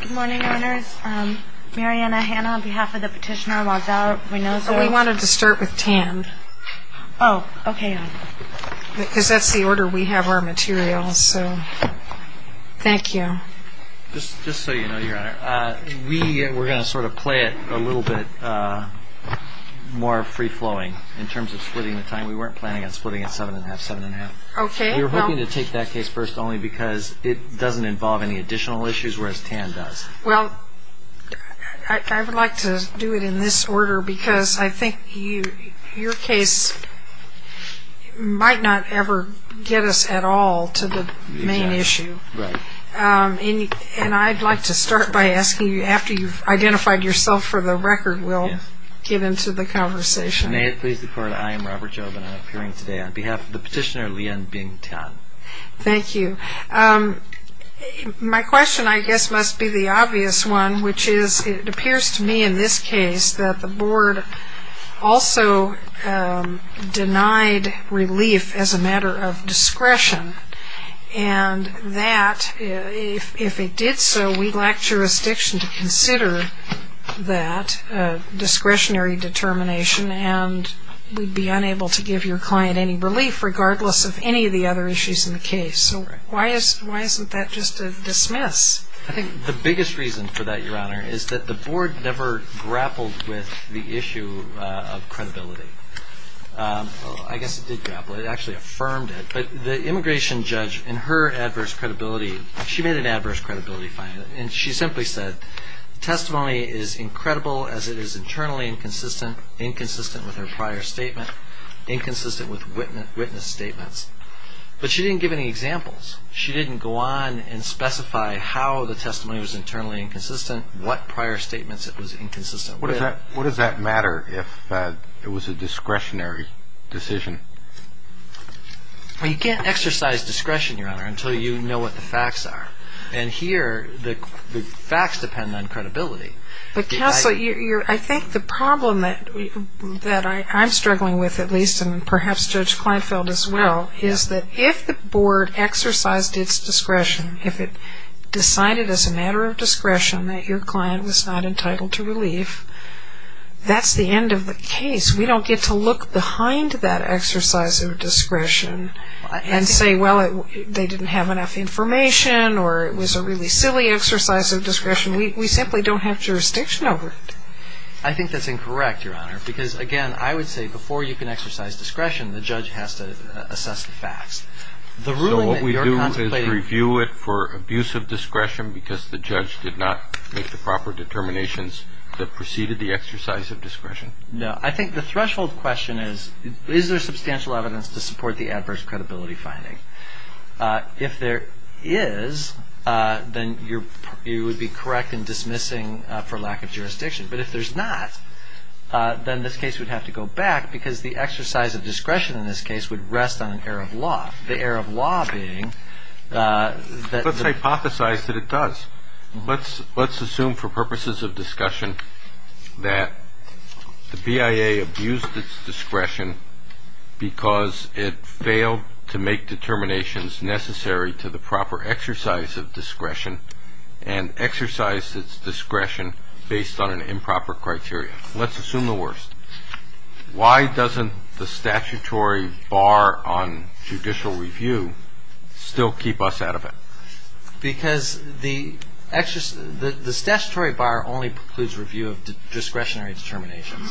Good morning, Your Honors. Mariana Hanna on behalf of the petitioner logs out. We wanted to start with Tan. Oh, okay, Your Honor. Because that's the order we have our materials, so thank you. Just so you know, Your Honor, we were going to sort of play it a little bit more free-flowing in terms of splitting the time. We weren't planning on splitting it 7 1⁄2, 7 1⁄2. We were hoping to take that case first only because it doesn't involve any additional issues, whereas Tan does. Well, I would like to do it in this order because I think your case might not ever get us at all to the main issue. Right. And I'd like to start by asking you, after you've identified yourself for the record, we'll get into the conversation. May it please the Court, I am Robert Jobin. I'm appearing today on behalf of the petitioner, Lian Bing Tan. Thank you. My question, I guess, must be the obvious one, which is it appears to me in this case that the Board also denied relief as a matter of discretion and that if it did so, we'd lack jurisdiction to consider that discretionary determination and we'd be unable to give your client any relief regardless of any of the other issues in the case. So why isn't that just a dismiss? I think the biggest reason for that, Your Honor, is that the Board never grappled with the issue of credibility. I guess it did grapple. It actually affirmed it. But the immigration judge, in her adverse credibility, she made an adverse credibility finding. And she simply said, testimony is incredible as it is internally inconsistent, inconsistent with her prior statement, inconsistent with witness statements. But she didn't give any examples. She didn't go on and specify how the testimony was internally inconsistent, what prior statements it was inconsistent with. What does that matter if it was a discretionary decision? You can't exercise discretion, Your Honor, until you know what the facts are. And here, the facts depend on credibility. But counsel, I think the problem that I'm struggling with, at least, and perhaps Judge Kleinfeld as well, is that if the Board exercised its discretion, if it decided as a matter of discretion that your client was not entitled to relief, that's the end of the case. We don't get to look behind that exercise of discretion and say, well, they didn't have enough information or it was a really silly exercise of discretion. We simply don't have jurisdiction over it. I think that's incorrect, Your Honor, because, again, I would say before you can exercise discretion, the judge has to assess the facts. So what we do is review it for abuse of discretion because the judge did not make the proper determinations that preceded the exercise of discretion? No. I think the threshold question is, is there substantial evidence to support the adverse credibility finding? If there is, then you would be correct in dismissing for lack of jurisdiction. But if there's not, then this case would have to go back because the exercise of discretion in this case would rest on an error of law. The error of law being that the- Let's hypothesize that it does. Let's assume for purposes of discussion that the BIA abused its discretion because it failed to make determinations necessary to the proper exercise of discretion and exercised its discretion based on an improper criteria. Let's assume the worst. Why doesn't the statutory bar on judicial review still keep us out of it? Because the statutory bar only precludes review of discretionary determinations.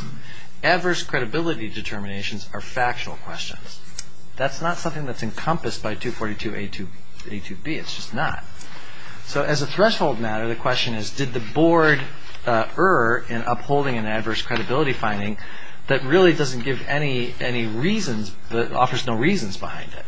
Adverse credibility determinations are factual questions. That's not something that's encompassed by 242a to 22b. It's just not. So as a threshold matter, the question is, did the board err in upholding an adverse credibility finding that really doesn't give any reasons, offers no reasons behind it?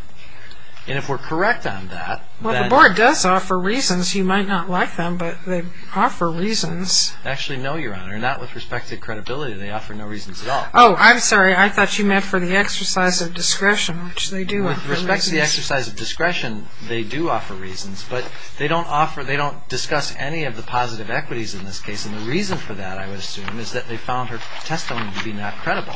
And if we're correct on that- It does offer reasons. You might not like them, but they offer reasons. Actually, no, Your Honor, not with respect to credibility. They offer no reasons at all. Oh, I'm sorry. I thought you meant for the exercise of discretion, which they do. With respect to the exercise of discretion, they do offer reasons, but they don't discuss any of the positive equities in this case. And the reason for that, I would assume, is that they found her testimony to be not credible.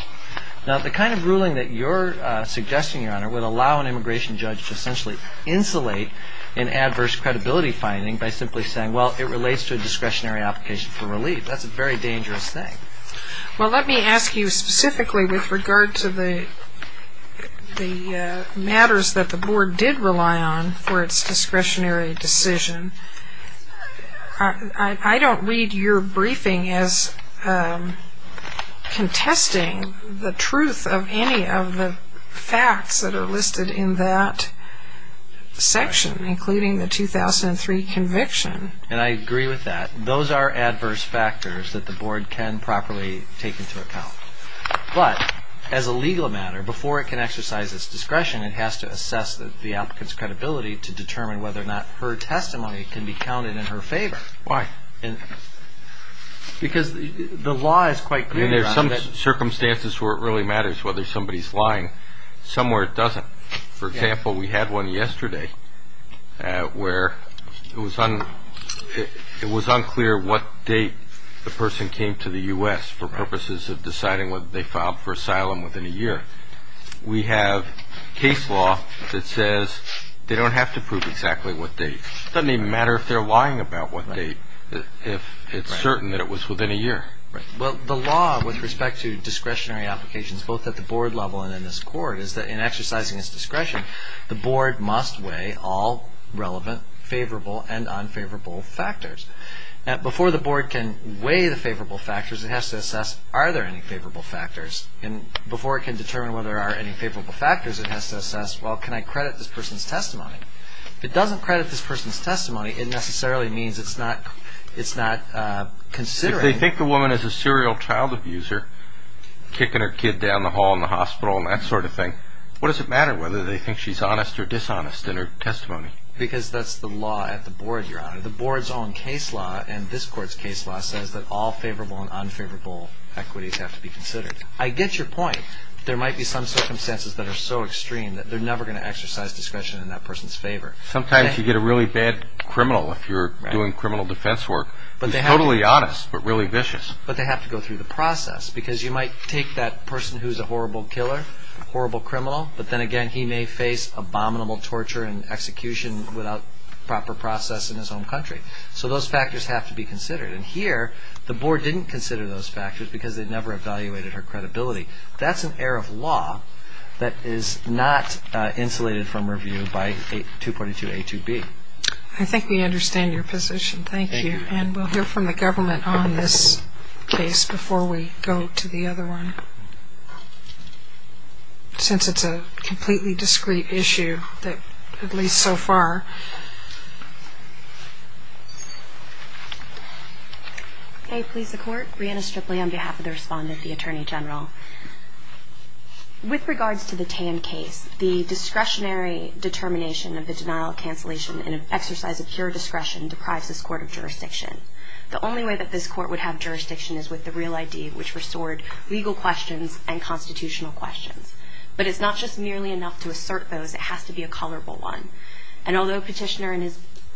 Now, the kind of ruling that you're suggesting, Your Honor, would allow an immigration judge to essentially insulate an adverse credibility finding by simply saying, well, it relates to a discretionary application for relief. That's a very dangerous thing. Well, let me ask you specifically with regard to the matters that the board did rely on for its discretionary decision. I don't read your briefing as contesting the truth of any of the facts that are listed in that section, including the 2003 conviction. And I agree with that. Those are adverse factors that the board can properly take into account. But as a legal matter, before it can exercise its discretion, it has to assess the applicant's credibility to determine whether or not her testimony can be counted in her favor. Why? Because the law is quite clear on that. I mean, there are some circumstances where it really matters whether somebody is lying. Some where it doesn't. For example, we had one yesterday where it was unclear what date the person came to the U.S. for purposes of deciding whether they filed for asylum within a year. We have case law that says they don't have to prove exactly what date. It doesn't even matter if they're lying about what date, if it's certain that it was within a year. Well, the law with respect to discretionary applications, both at the board level and in this court, is that in exercising its discretion, the board must weigh all relevant, favorable, and unfavorable factors. Before the board can weigh the favorable factors, it has to assess, are there any favorable factors? And before it can determine whether there are any favorable factors, it has to assess, well, can I credit this person's testimony? If it doesn't credit this person's testimony, it necessarily means it's not considering. If they think the woman is a serial child abuser, kicking her kid down the hall in the hospital and that sort of thing, what does it matter whether they think she's honest or dishonest in her testimony? The board's own case law and this court's case law says that all favorable and unfavorable equities have to be considered. I get your point. There might be some circumstances that are so extreme that they're never going to exercise discretion in that person's favor. Sometimes you get a really bad criminal if you're doing criminal defense work. He's totally honest but really vicious. But they have to go through the process because you might take that person who's a horrible killer, horrible criminal, but then again he may face abominable torture and execution without proper process in his own country. So those factors have to be considered. And here, the board didn't consider those factors because they never evaluated her credibility. That's an air of law that is not insulated from review by 2.2a, 2b. I think we understand your position. Thank you. And we'll hear from the government on this case before we go to the other one. Since it's a completely discreet issue, at least so far. May it please the Court. Brianna Stripley on behalf of the respondent, the Attorney General. With regards to the Tan case, the discretionary determination of the denial of cancellation in an exercise of pure discretion deprives this court of jurisdiction. The only way that this court would have jurisdiction is with the real ID, which restored legal questions and constitutional questions. But it's not just merely enough to assert those. It has to be a colorable one. And although Petitioner in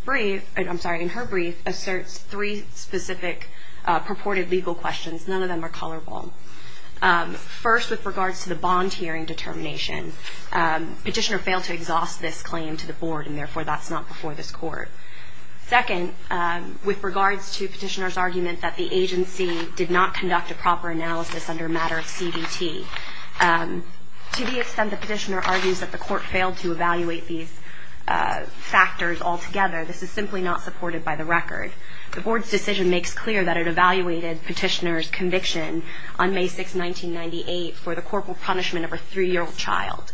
her brief asserts three specific purported legal questions, none of them are colorable. First, with regards to the bond hearing determination, Petitioner failed to exhaust this claim to the board, and therefore that's not before this court. Second, with regards to Petitioner's argument that the agency did not conduct a proper analysis under a matter of CBT, to the extent that Petitioner argues that the court failed to evaluate these factors altogether, this is simply not supported by the record. The board's decision makes clear that it evaluated Petitioner's conviction on May 6, 1998, for the corporal punishment of a three-year-old child.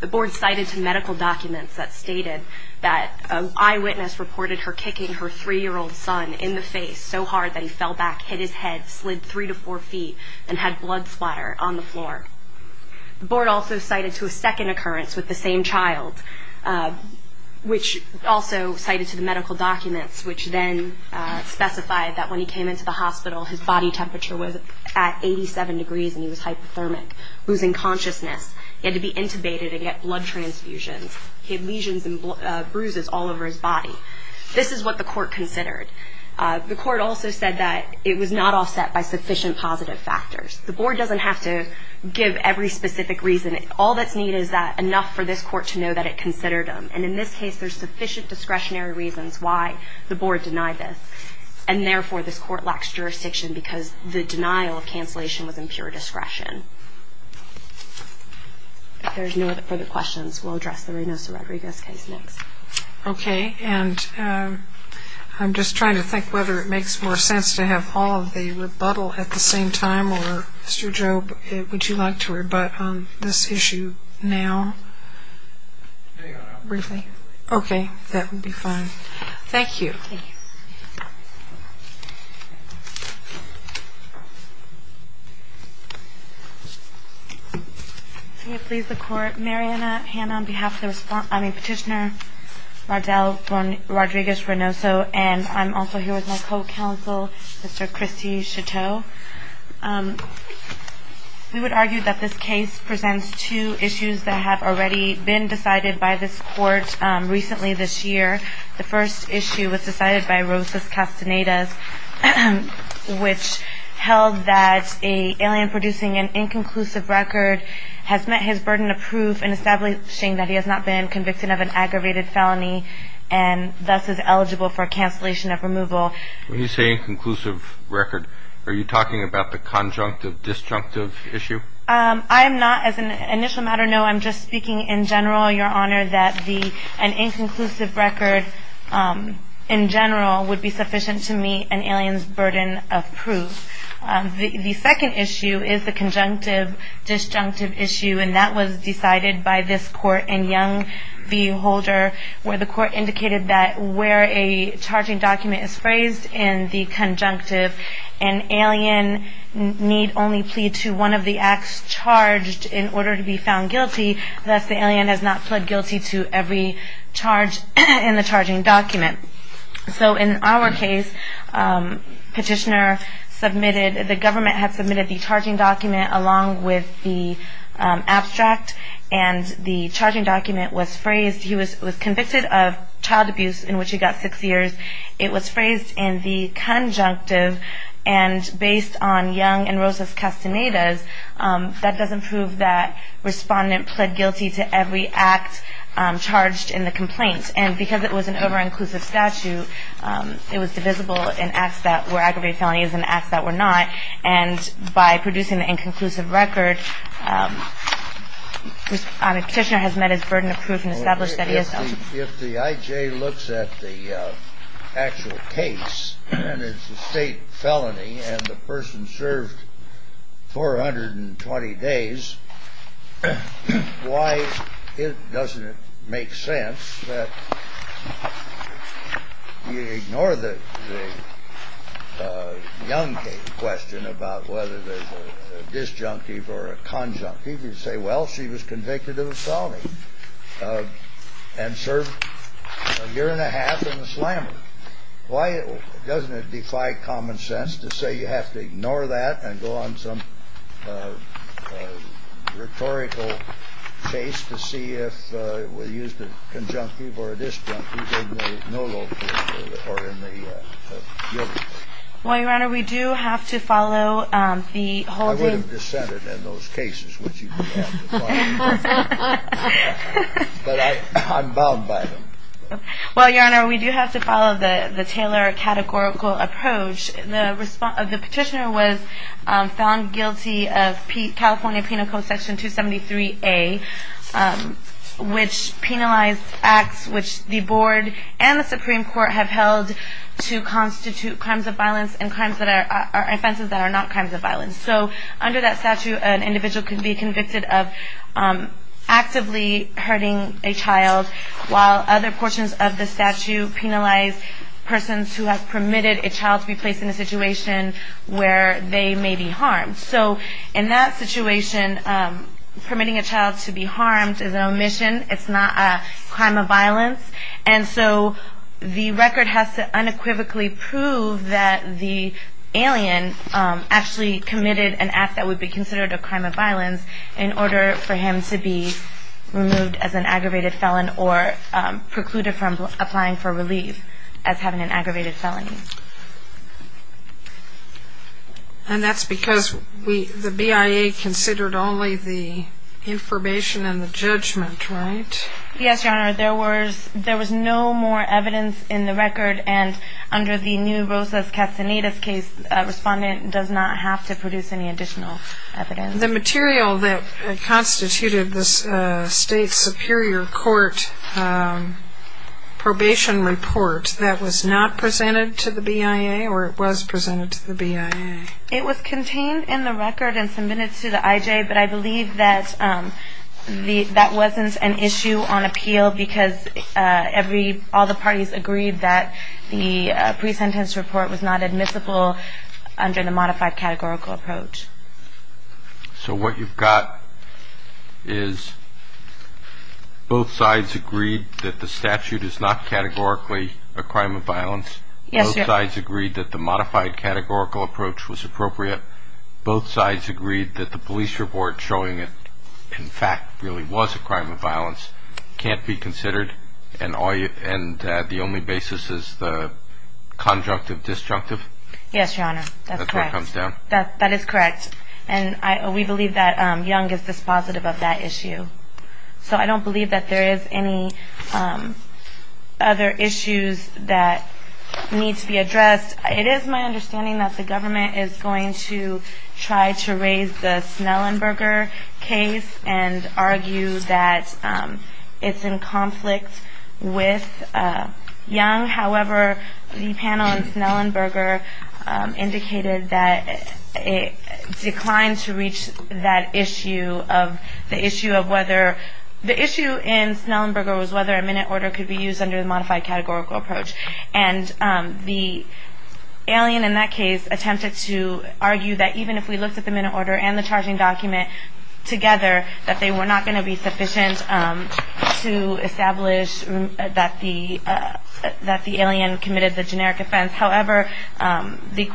The board cited some medical documents that stated that an eyewitness reported her kicking her three-year-old son in the face so hard that he fell back, hit his head, slid three to four feet, and had blood splatter on the floor. The board also cited a second occurrence with the same child, which also cited some medical documents, which then specified that when he came into the hospital, his body temperature was at 87 degrees, and he was hypothermic, losing consciousness. He had to be intubated and get blood transfusions. He had lesions and bruises all over his body. This is what the court considered. The court also said that it was not offset by sufficient positive factors. The board doesn't have to give every specific reason. All that's needed is enough for this court to know that it considered him, and in this case there's sufficient discretionary reasons why the board denied this, and therefore this court lacks jurisdiction because the denial of cancellation was in pure discretion. If there's no further questions, we'll address the Reynoso-Rodriguez case next. Okay, and I'm just trying to think whether it makes more sense to have all of the rebuttal at the same time, or Mr. Jobe, would you like to rebut on this issue now? Hang on. Okay, that would be fine. Thank you. Thank you. May it please the Court, Mariana Hanna on behalf of the petitioner Rardel Rodriguez-Reynoso, and I'm also here with my co-counsel, Mr. Christy Chateau. We would argue that this case presents two issues that have already been decided by this court recently this year. The first issue was decided by Rosas Castaneda, which held that an alien producing an inconclusive record has met his burden of proof in establishing that he has not been convicted of an aggravated felony and thus is eligible for cancellation of removal. When you say inconclusive record, are you talking about the conjunctive, disjunctive issue? I am not. As an initial matter, no, I'm just speaking in general. I know, Your Honor, that an inconclusive record in general would be sufficient to meet an alien's burden of proof. The second issue is the conjunctive, disjunctive issue, and that was decided by this court in Young v. Holder, where the court indicated that where a charging document is phrased in the conjunctive, an alien need only plead to one of the acts charged in order to be found guilty, thus the alien has not pled guilty to every charge in the charging document. So in our case, the government had submitted the charging document along with the abstract, and the charging document was phrased. He was convicted of child abuse in which he got six years. It was phrased in the conjunctive, and based on Young and Rosas Castaneda's, that doesn't prove that Respondent pled guilty to every act charged in the complaint. And because it was an over-inclusive statute, it was divisible in acts that were aggravated felonies and acts that were not. And by producing the inconclusive record, the Petitioner has met his burden of proof and established that he is not guilty. If the I.J. looks at the actual case and it's a state felony and the person served 420 days, why doesn't it make sense that you ignore the Young case question about whether there's a disjunctive or a conjunctive? You say, well, she was convicted of a felony and served a year and a half in the slammer. Why doesn't it defy common sense to say you have to ignore that and go on some rhetorical chase to see if we used a conjunctive or a disjunctive in the no locus or in the guilty case? Well, Your Honor, we do have to follow the holding. Well, Your Honor, we do have to follow the Taylor categorical approach. The Petitioner was found guilty of California Penal Code Section 273A, which penalized acts which the Board and the Supreme Court have held to constitute crimes of violence and offenses that are not crimes of violence. So under that statute, an individual can be convicted of actively hurting a child, while other portions of the statute penalize persons who have permitted a child to be placed in a situation where they may be harmed. So in that situation, permitting a child to be harmed is an omission. It's not a crime of violence. And so the record has to unequivocally prove that the alien actually committed an act that would be considered a crime of violence in order for him to be removed as an aggravated felon or precluded from applying for relief as having an aggravated felony. And that's because the BIA considered only the information and the judgment, right? Yes, Your Honor. There was no more evidence in the record. And under the new Rosas-Castanedas case, a respondent does not have to produce any additional evidence. The material that constituted this State Superior Court probation report, that was not presented to the BIA, or it was presented to the BIA? It was contained in the record and submitted to the IJ, but I believe that that wasn't an issue on appeal because all the parties agreed that the pre-sentence report was not admissible under the modified categorical approach. So what you've got is both sides agreed that the statute is not categorically a crime of violence. Yes, Your Honor. Both sides agreed that the modified categorical approach was appropriate. Both sides agreed that the police report showing it in fact really was a crime of violence can't be considered and the only basis is the conjunctive disjunctive? Yes, Your Honor. That's correct. That's what comes down? That is correct. And we believe that Young is dispositive of that issue. So I don't believe that there is any other issues that need to be addressed. It is my understanding that the government is going to try to raise the Snellenberger case and argue that it's in conflict with Young. However, the panel in Snellenberger indicated that it declined to reach that issue of the issue of whether the issue in Snellenberger was whether a minute order could be used under the modified categorical approach. And the alien in that case attempted to argue that even if we looked at the minute order and the charging document together, that they were not going to be sufficient to establish that the alien committed the generic offense. However, this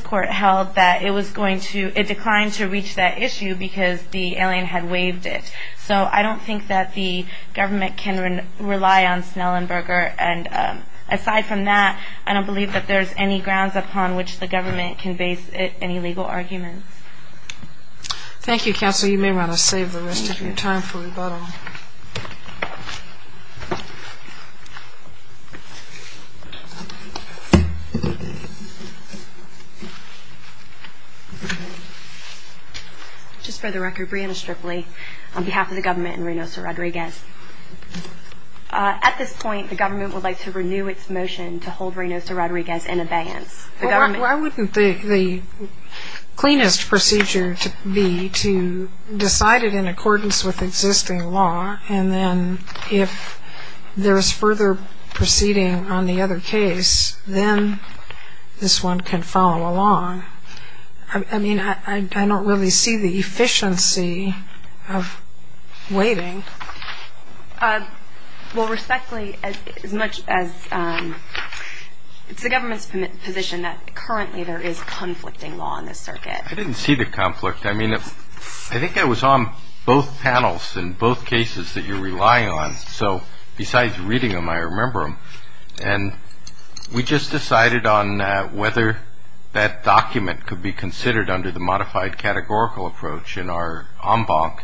court held that it declined to reach that issue because the alien had waived it. So I don't think that the government can rely on Snellenberger. And aside from that, I don't believe that there's any grounds upon which the government can base any legal arguments. Thank you, Counsel. You may want to save the rest of your time for rebuttal. Just for the record, Brianna Stripley on behalf of the government and Reynosa Rodriguez. At this point, the government would like to renew its motion to hold Reynosa Rodriguez in abeyance. Why wouldn't the cleanest procedure be to decide it in accordance with existing law? And then if there is further proceeding on the other case, then this one can follow along. I mean, I don't really see the efficiency of waiting. Well, respectfully, as much as it's the government's position that currently there is conflicting law in this circuit. I didn't see the conflict. I mean, I think it was on both panels in both cases that you're relying on. So besides reading them, I remember them. And we just decided on whether that document could be considered under the modified categorical approach in our en banc.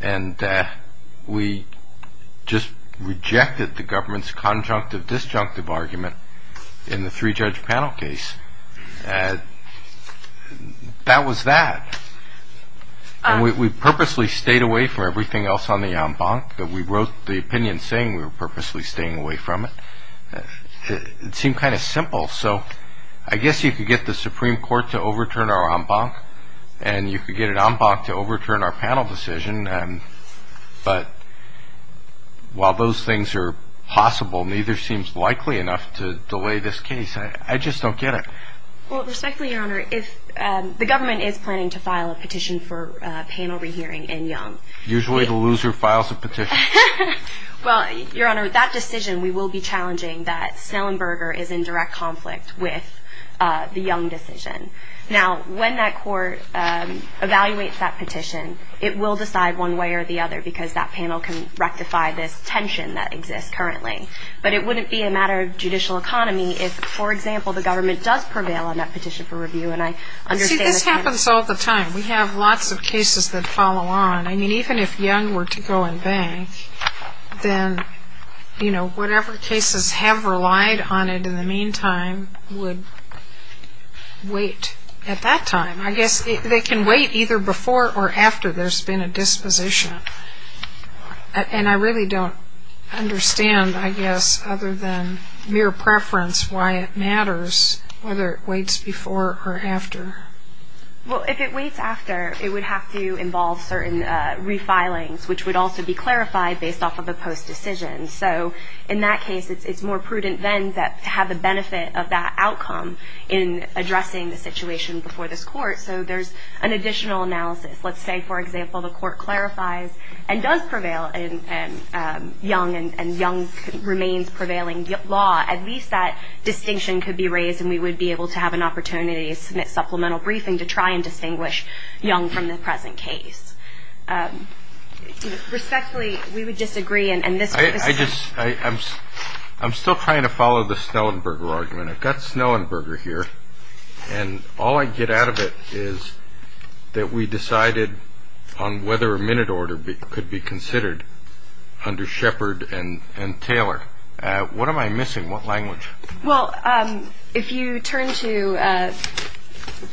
And we just rejected the government's conjunctive disjunctive argument in the three judge panel case. That was that. We purposely stayed away from everything else on the en banc that we wrote the opinion saying we were purposely staying away from it. It seemed kind of simple. So I guess you could get the Supreme Court to overturn our en banc and you could get an en banc to overturn our panel decision. But while those things are possible, neither seems likely enough to delay this case. I just don't get it. Well, respectfully, Your Honor, if the government is planning to file a petition for panel rehearing in Young. Usually the loser files a petition. Well, Your Honor, that decision, we will be challenging that Snellenberger is in direct conflict with the Young decision. Now, when that court evaluates that petition, it will decide one way or the other because that panel can rectify this tension that exists currently. But it wouldn't be a matter of judicial economy if, for example, the government does prevail on that petition for review. And I understand that. See, this happens all the time. We have lots of cases that follow on. I mean, even if Young were to go en banc, then, you know, whatever cases have relied on it in the meantime would wait at that time. I guess they can wait either before or after there's been a disposition. And I really don't understand, I guess, other than mere preference, why it matters whether it waits before or after. Well, if it waits after, it would have to involve certain refilings, which would also be clarified based off of a post decision. So in that case, it's more prudent then to have the benefit of that outcome in addressing the situation before this court. So there's an additional analysis. Let's say, for example, the court clarifies and does prevail in Young and Young remains prevailing law. At least that distinction could be raised and we would be able to have an opportunity to submit supplemental briefing to try and distinguish Young from the present case. Respectfully, we would disagree. I'm still trying to follow the Snellenberger argument. I've got Snellenberger here, and all I get out of it is that we decided on whether a minute order could be considered under Shepard and Taylor. What am I missing? What language? Well, if you turn to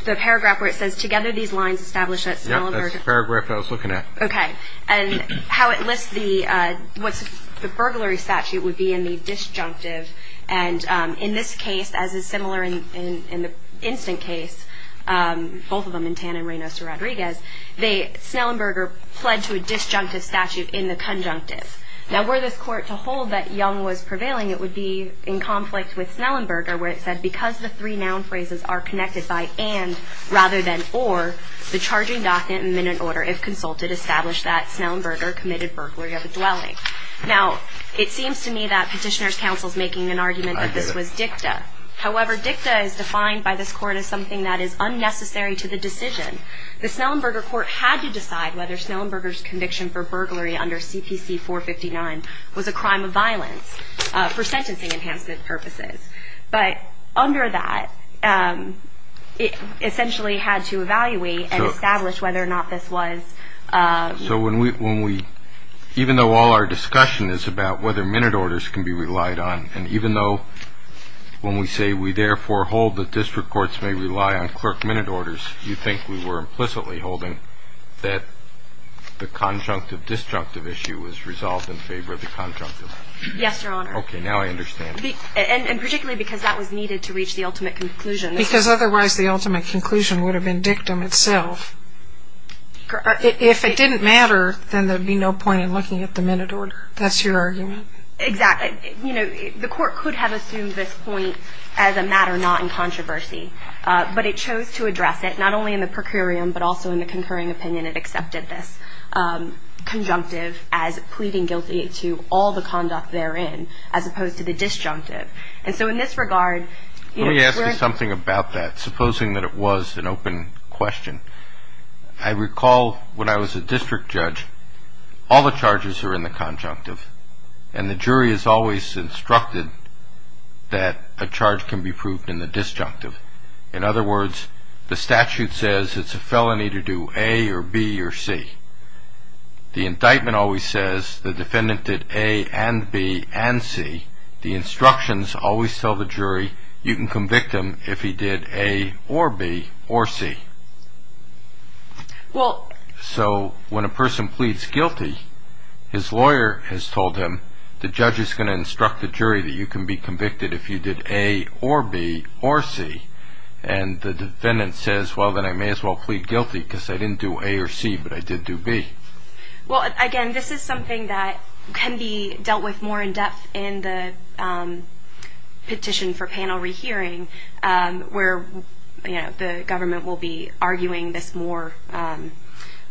the paragraph where it says, together these lines establish that Snellenberger. Yeah, that's the paragraph I was looking at. Okay. And how it lists the, what's the burglary statute would be in the disjunctive. And in this case, as is similar in the instant case, both of them in Tan and Reynoso Rodriguez, Snellenberger pled to a disjunctive statute in the conjunctive. Now, were this court to hold that Young was prevailing, it would be in conflict with Snellenberger where it said, because the three noun phrases are connected by and rather than or, the charging docket and minute order, if consulted, establish that Snellenberger committed burglary of a dwelling. Now, it seems to me that Petitioner's Counsel is making an argument that this was dicta. However, dicta is defined by this court as something that is unnecessary to the decision. The Snellenberger court had to decide whether Snellenberger's conviction for burglary under CPC 459 was a crime of violence for sentencing enhancement purposes. But under that, it essentially had to evaluate and establish whether or not this was. So when we, even though all our discussion is about whether minute orders can be relied on, and even though when we say we therefore hold that district courts may rely on clerk minute orders, you think we were implicitly holding that the conjunctive disjunctive issue was resolved in favor of the conjunctive? Yes, Your Honor. Okay, now I understand. And particularly because that was needed to reach the ultimate conclusion. Because otherwise the ultimate conclusion would have been dictum itself. If it didn't matter, then there would be no point in looking at the minute order. That's your argument? Exactly. You know, the court could have assumed this point as a matter not in controversy. But it chose to address it, not only in the procurium, but also in the concurring opinion it accepted this conjunctive as pleading guilty to all the conduct therein, as opposed to the disjunctive. And so in this regard, you know, we're asking something about that, supposing that it was an open question. I recall when I was a district judge, all the charges are in the conjunctive, and the jury is always instructed that a charge can be proved in the disjunctive. In other words, the statute says it's a felony to do A or B or C. The indictment always says the defendant did A and B and C. The instructions always tell the jury you can convict him if he did A or B or C. So when a person pleads guilty, his lawyer has told him the judge is going to instruct the jury that you can be convicted if you did A or B or C. And the defendant says, well, then I may as well plead guilty because I didn't do A or C, but I did do B. Well, again, this is something that can be dealt with more in depth in the petition for panel rehearing, where the government will be arguing this more.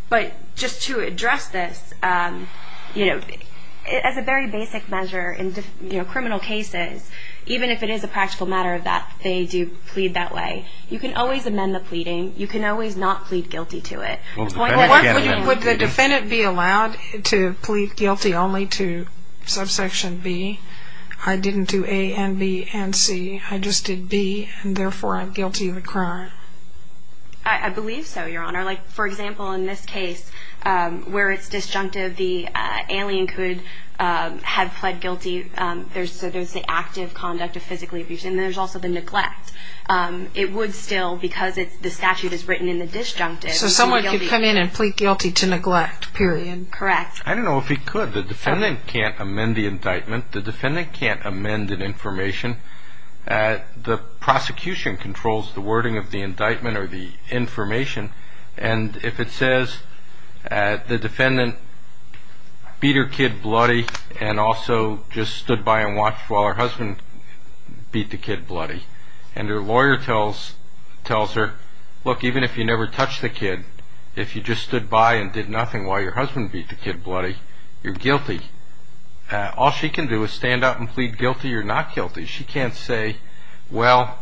But just to address this, you know, as a very basic measure in criminal cases, even if it is a practical matter that they do plead that way, you can always amend the pleading. You can always not plead guilty to it. Would the defendant be allowed to plead guilty only to subsection B? I didn't do A and B and C. I just did B, and therefore I'm guilty of a crime. I believe so, Your Honor. Like, for example, in this case, where it's disjunctive, the alien could have pled guilty. There's the active conduct of physically abuse, and there's also the neglect. It would still, because the statute is written in the disjunctive, plead guilty. So someone could come in and plead guilty to neglect, period. Correct. I don't know if he could. The defendant can't amend the indictment. The defendant can't amend an information. The prosecution controls the wording of the indictment or the information. And if it says the defendant beat her kid bloody and also just stood by and watched while her husband beat the kid bloody, and her lawyer tells her, look, even if you never touched the kid, if you just stood by and did nothing while your husband beat the kid bloody, you're guilty. All she can do is stand up and plead guilty or not guilty. She can't say, well,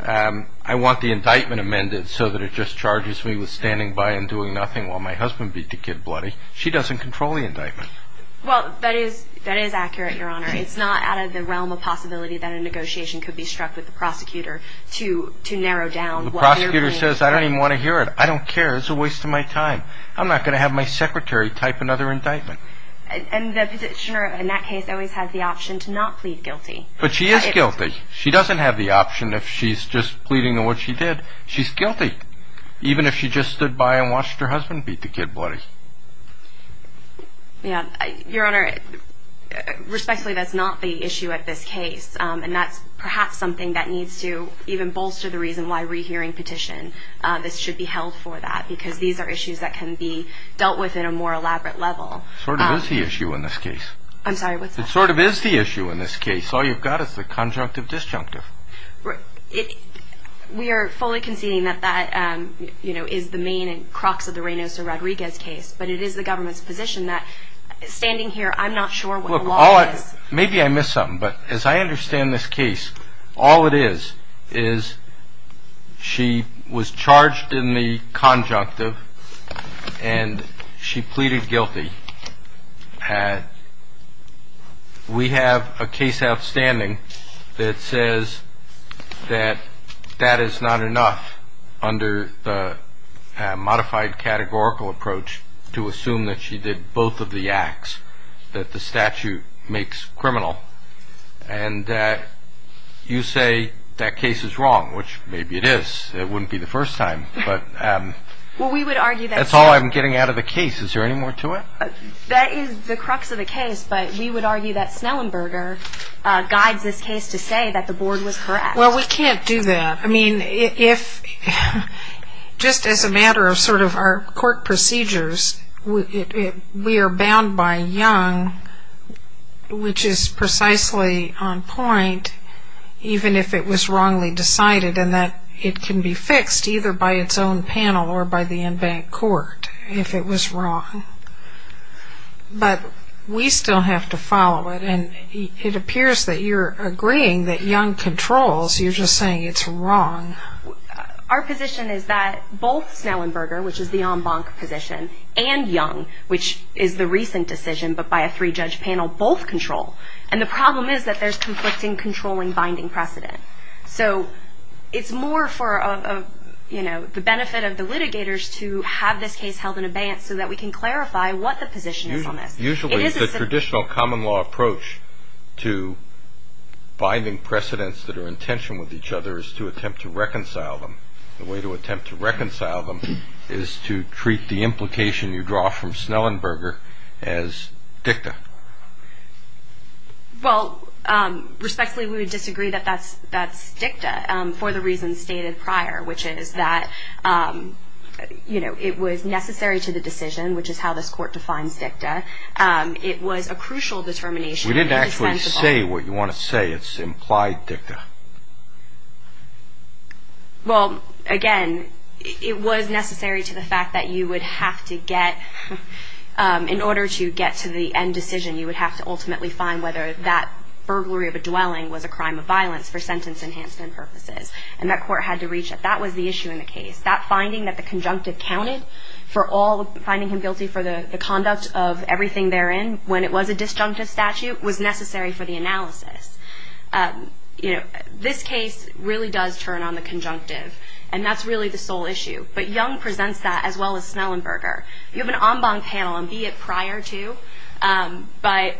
I want the indictment amended so that it just charges me with standing by and doing nothing while my husband beat the kid bloody. She doesn't control the indictment. Well, that is accurate, Your Honor. It's not out of the realm of possibility that a negotiation could be struck with the prosecutor to narrow down. The prosecutor says, I don't even want to hear it. I don't care. It's a waste of my time. I'm not going to have my secretary type another indictment. And the petitioner in that case always has the option to not plead guilty. But she is guilty. She doesn't have the option if she's just pleading on what she did. She's guilty, even if she just stood by and watched her husband beat the kid bloody. Yeah. Your Honor, respectfully, that's not the issue at this case. And that's perhaps something that needs to even bolster the reason why rehearing petition, this should be held for that, because these are issues that can be dealt with in a more elaborate level. It sort of is the issue in this case. I'm sorry, what's that? It sort of is the issue in this case. All you've got is the conjunctive disjunctive. We are fully conceding that that is the main crux of the Reynoso-Rodriguez case, but it is the government's position that standing here, I'm not sure what the law is. Maybe I missed something, but as I understand this case, all it is is she was charged in the conjunctive and she pleaded guilty. We have a case outstanding that says that that is not enough under the modified categorical approach to assume that she did both of the acts, that the statute makes criminal, and that you say that case is wrong, which maybe it is. It wouldn't be the first time, but that's all I'm getting out of the case. Is there any more to it? That is the crux of the case, but we would argue that Snellenberger guides this case to say that the board was correct. Well, we can't do that. I mean, just as a matter of sort of our court procedures, we are bound by Young, which is precisely on point even if it was wrongly decided, and that it can be fixed either by its own panel or by the en banc court if it was wrong. But we still have to follow it, and it appears that you're agreeing that Young controls. You're just saying it's wrong. Our position is that both Snellenberger, which is the en banc position, and Young, which is the recent decision but by a three-judge panel, both control, and the problem is that there's conflicting controlling binding precedent. So it's more for the benefit of the litigators to have this case held in abeyance so that we can clarify what the position is on this. Usually the traditional common law approach to binding precedents that are in tension with each other is to attempt to reconcile them. The way to attempt to reconcile them is to treat the implication you draw from Snellenberger as dicta. Well, respectfully, we would disagree that that's dicta for the reasons stated prior, which is that it was necessary to the decision, which is how this court defines dicta. It was a crucial determination. We didn't actually say what you want to say. It's implied dicta. Well, again, it was necessary to the fact that you would have to get, in order to get to the end decision, you would have to ultimately find whether that burglary of a dwelling was a crime of violence for sentence enhancement purposes, and that court had to reach that. That was the issue in the case. That finding that the conjunctive counted for all, finding him guilty for the conduct of everything therein when it was a disjunctive statute, was necessary for the analysis. This case really does turn on the conjunctive, and that's really the sole issue, but Young presents that as well as Snellenberger. You have an en banc panel, and be it prior to, but,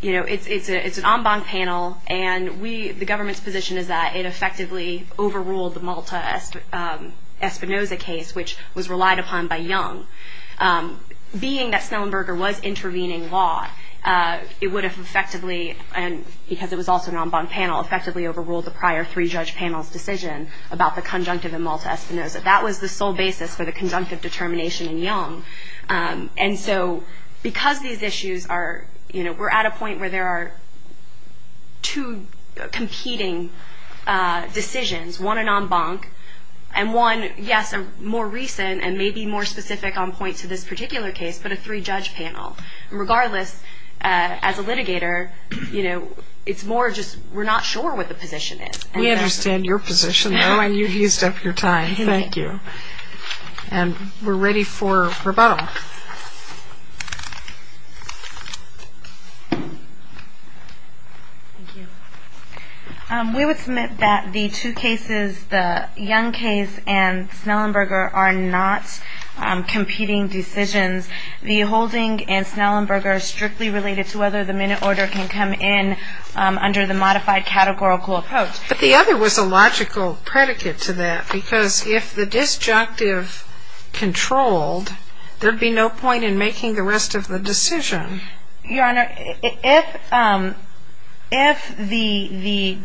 you know, it's an en banc panel, and we, the government's position is that it effectively overruled the Malta-Espinoza case, which was relied upon by Young. Being that Snellenberger was intervening law, it would have effectively, and because it was also an en banc panel, effectively overruled the prior three-judge panel's decision about the conjunctive in Malta-Espinoza. That was the sole basis for the conjunctive determination in Young. And so because these issues are, you know, we're at a point where there are two competing decisions, one an en banc, and one, yes, more recent and maybe more specific on points of this particular case, but a three-judge panel. Regardless, as a litigator, you know, it's more just we're not sure what the position is. We understand your position, though, and you've used up your time. Thank you. And we're ready for rebuttal. We would submit that the two cases, the Young case and Snellenberger, are not competing decisions. The holding in Snellenberger is strictly related to whether the minute order can come in under the modified categorical approach. But the other was a logical predicate to that because if the disjunctive controlled, there would be no point in making the rest of the decision. Your Honor, if the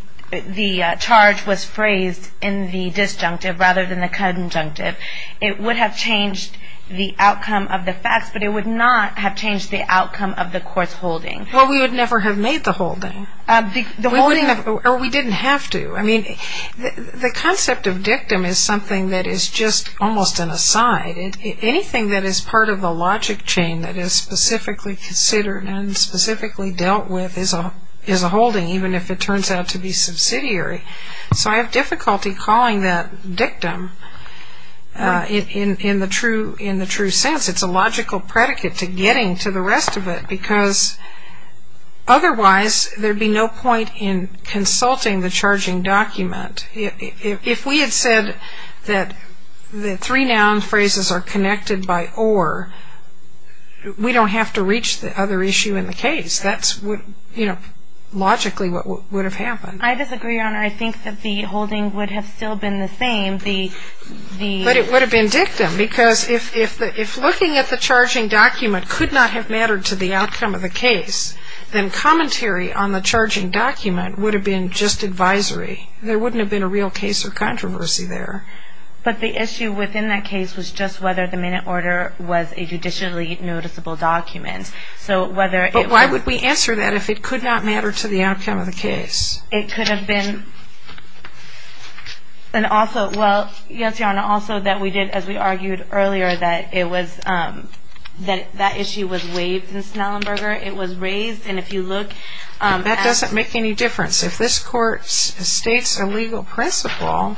charge was phrased in the disjunctive rather than the conjunctive, it would have changed the outcome of the facts, but it would not have changed the outcome of the court's holding. Well, we would never have made the holding. Or we didn't have to. I mean, the concept of dictum is something that is just almost an aside. Anything that is part of the logic chain that is specifically considered and specifically dealt with is a holding, even if it turns out to be subsidiary. So I have difficulty calling that dictum in the true sense. It's a logical predicate to getting to the rest of it because otherwise there would be no point in consulting the charging document. If we had said that the three noun phrases are connected by or, we don't have to reach the other issue in the case. That's logically what would have happened. I disagree, Your Honor. I think that the holding would have still been the same. But it would have been dictum because if looking at the charging document could not have mattered to the outcome of the case, then commentary on the charging document would have been just advisory. There wouldn't have been a real case of controversy there. But the issue within that case was just whether the minute order was a judicially noticeable document. But why would we answer that if it could not matter to the outcome of the case? It could have been. And also, well, yes, Your Honor, also that we did, as we argued earlier, that it was that issue was waived in Snellenberger. It was raised. And if you look at- That doesn't make any difference. If this Court states a legal principle,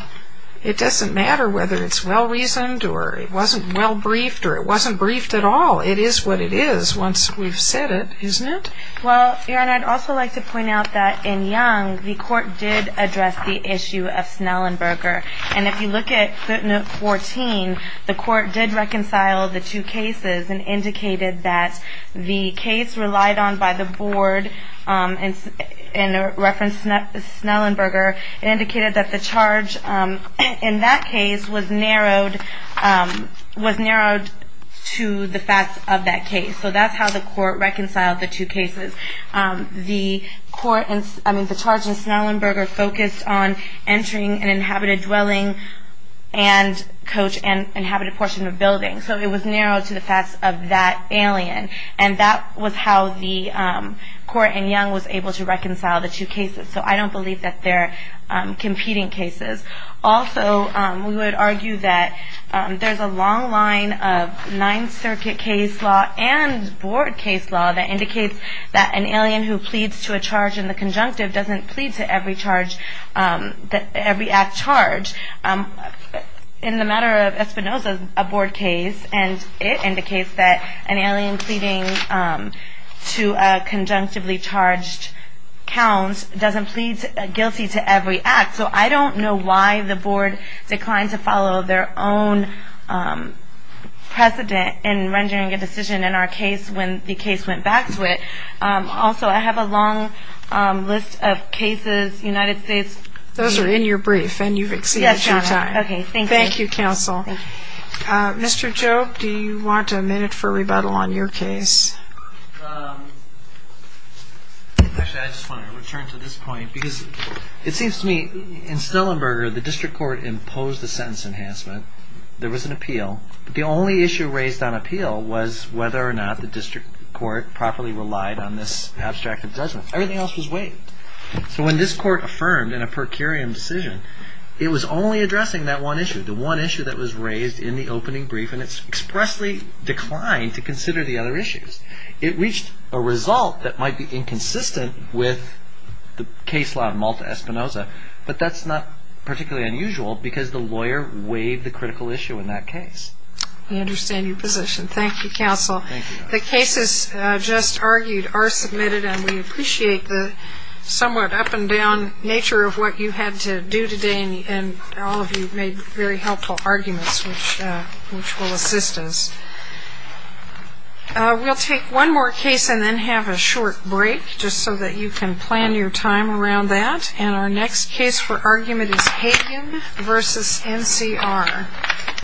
it doesn't matter whether it's well-reasoned or it wasn't well-briefed or it wasn't briefed at all. It is what it is once we've said it, isn't it? Well, Your Honor, I'd also like to point out that in Young, the Court did address the issue of Snellenberger. And if you look at footnote 14, the Court did reconcile the two cases and indicated that the case relied on by the Board in reference to Snellenberger indicated that the charge in that case was narrowed to the facts of that case. So that's how the Court reconciled the two cases. The court in- I mean, the charge in Snellenberger focused on entering an inhabited dwelling and coach and inhabited portion of building. So it was narrowed to the facts of that alien. And that was how the Court in Young was able to reconcile the two cases. So I don't believe that they're competing cases. Also, we would argue that there's a long line of Ninth Circuit case law and Board case law that indicates that an alien who pleads to a charge in the conjunctive doesn't plead to every act charged. In the matter of Espinoza, a Board case, and it indicates that an alien pleading to a conjunctively charged count doesn't plead guilty to every act. So I don't know why the Board declined to follow their own precedent in rendering a decision in our case when the case went back to it. Also, I have a long list of cases, United States- Those are in your brief, and you've exceeded your time. Yes, Your Honor. Okay, thank you. Thank you, Counsel. Mr. Job, do you want a minute for rebuttal on your case? Actually, I just want to return to this point, because it seems to me in Snellenberger the district court imposed a sentence enhancement. There was an appeal. The only issue raised on appeal was whether or not the district court properly relied on this abstracted judgment. Everything else was waived. So when this court affirmed in a per curiam decision, it was only addressing that one issue, the one issue that was raised in the opening brief, and it expressly declined to consider the other issues. It reached a result that might be inconsistent with the case law of Malta-Espinoza, but that's not particularly unusual because the lawyer waived the critical issue in that case. I understand your position. Thank you, Counsel. Thank you, Your Honor. The cases just argued are submitted, and we appreciate the somewhat up-and-down nature of what you had to do today, and all of you made very helpful arguments, which will assist us. We'll take one more case and then have a short break, just so that you can plan your time around that. And our next case for argument is Hagin v. NCR.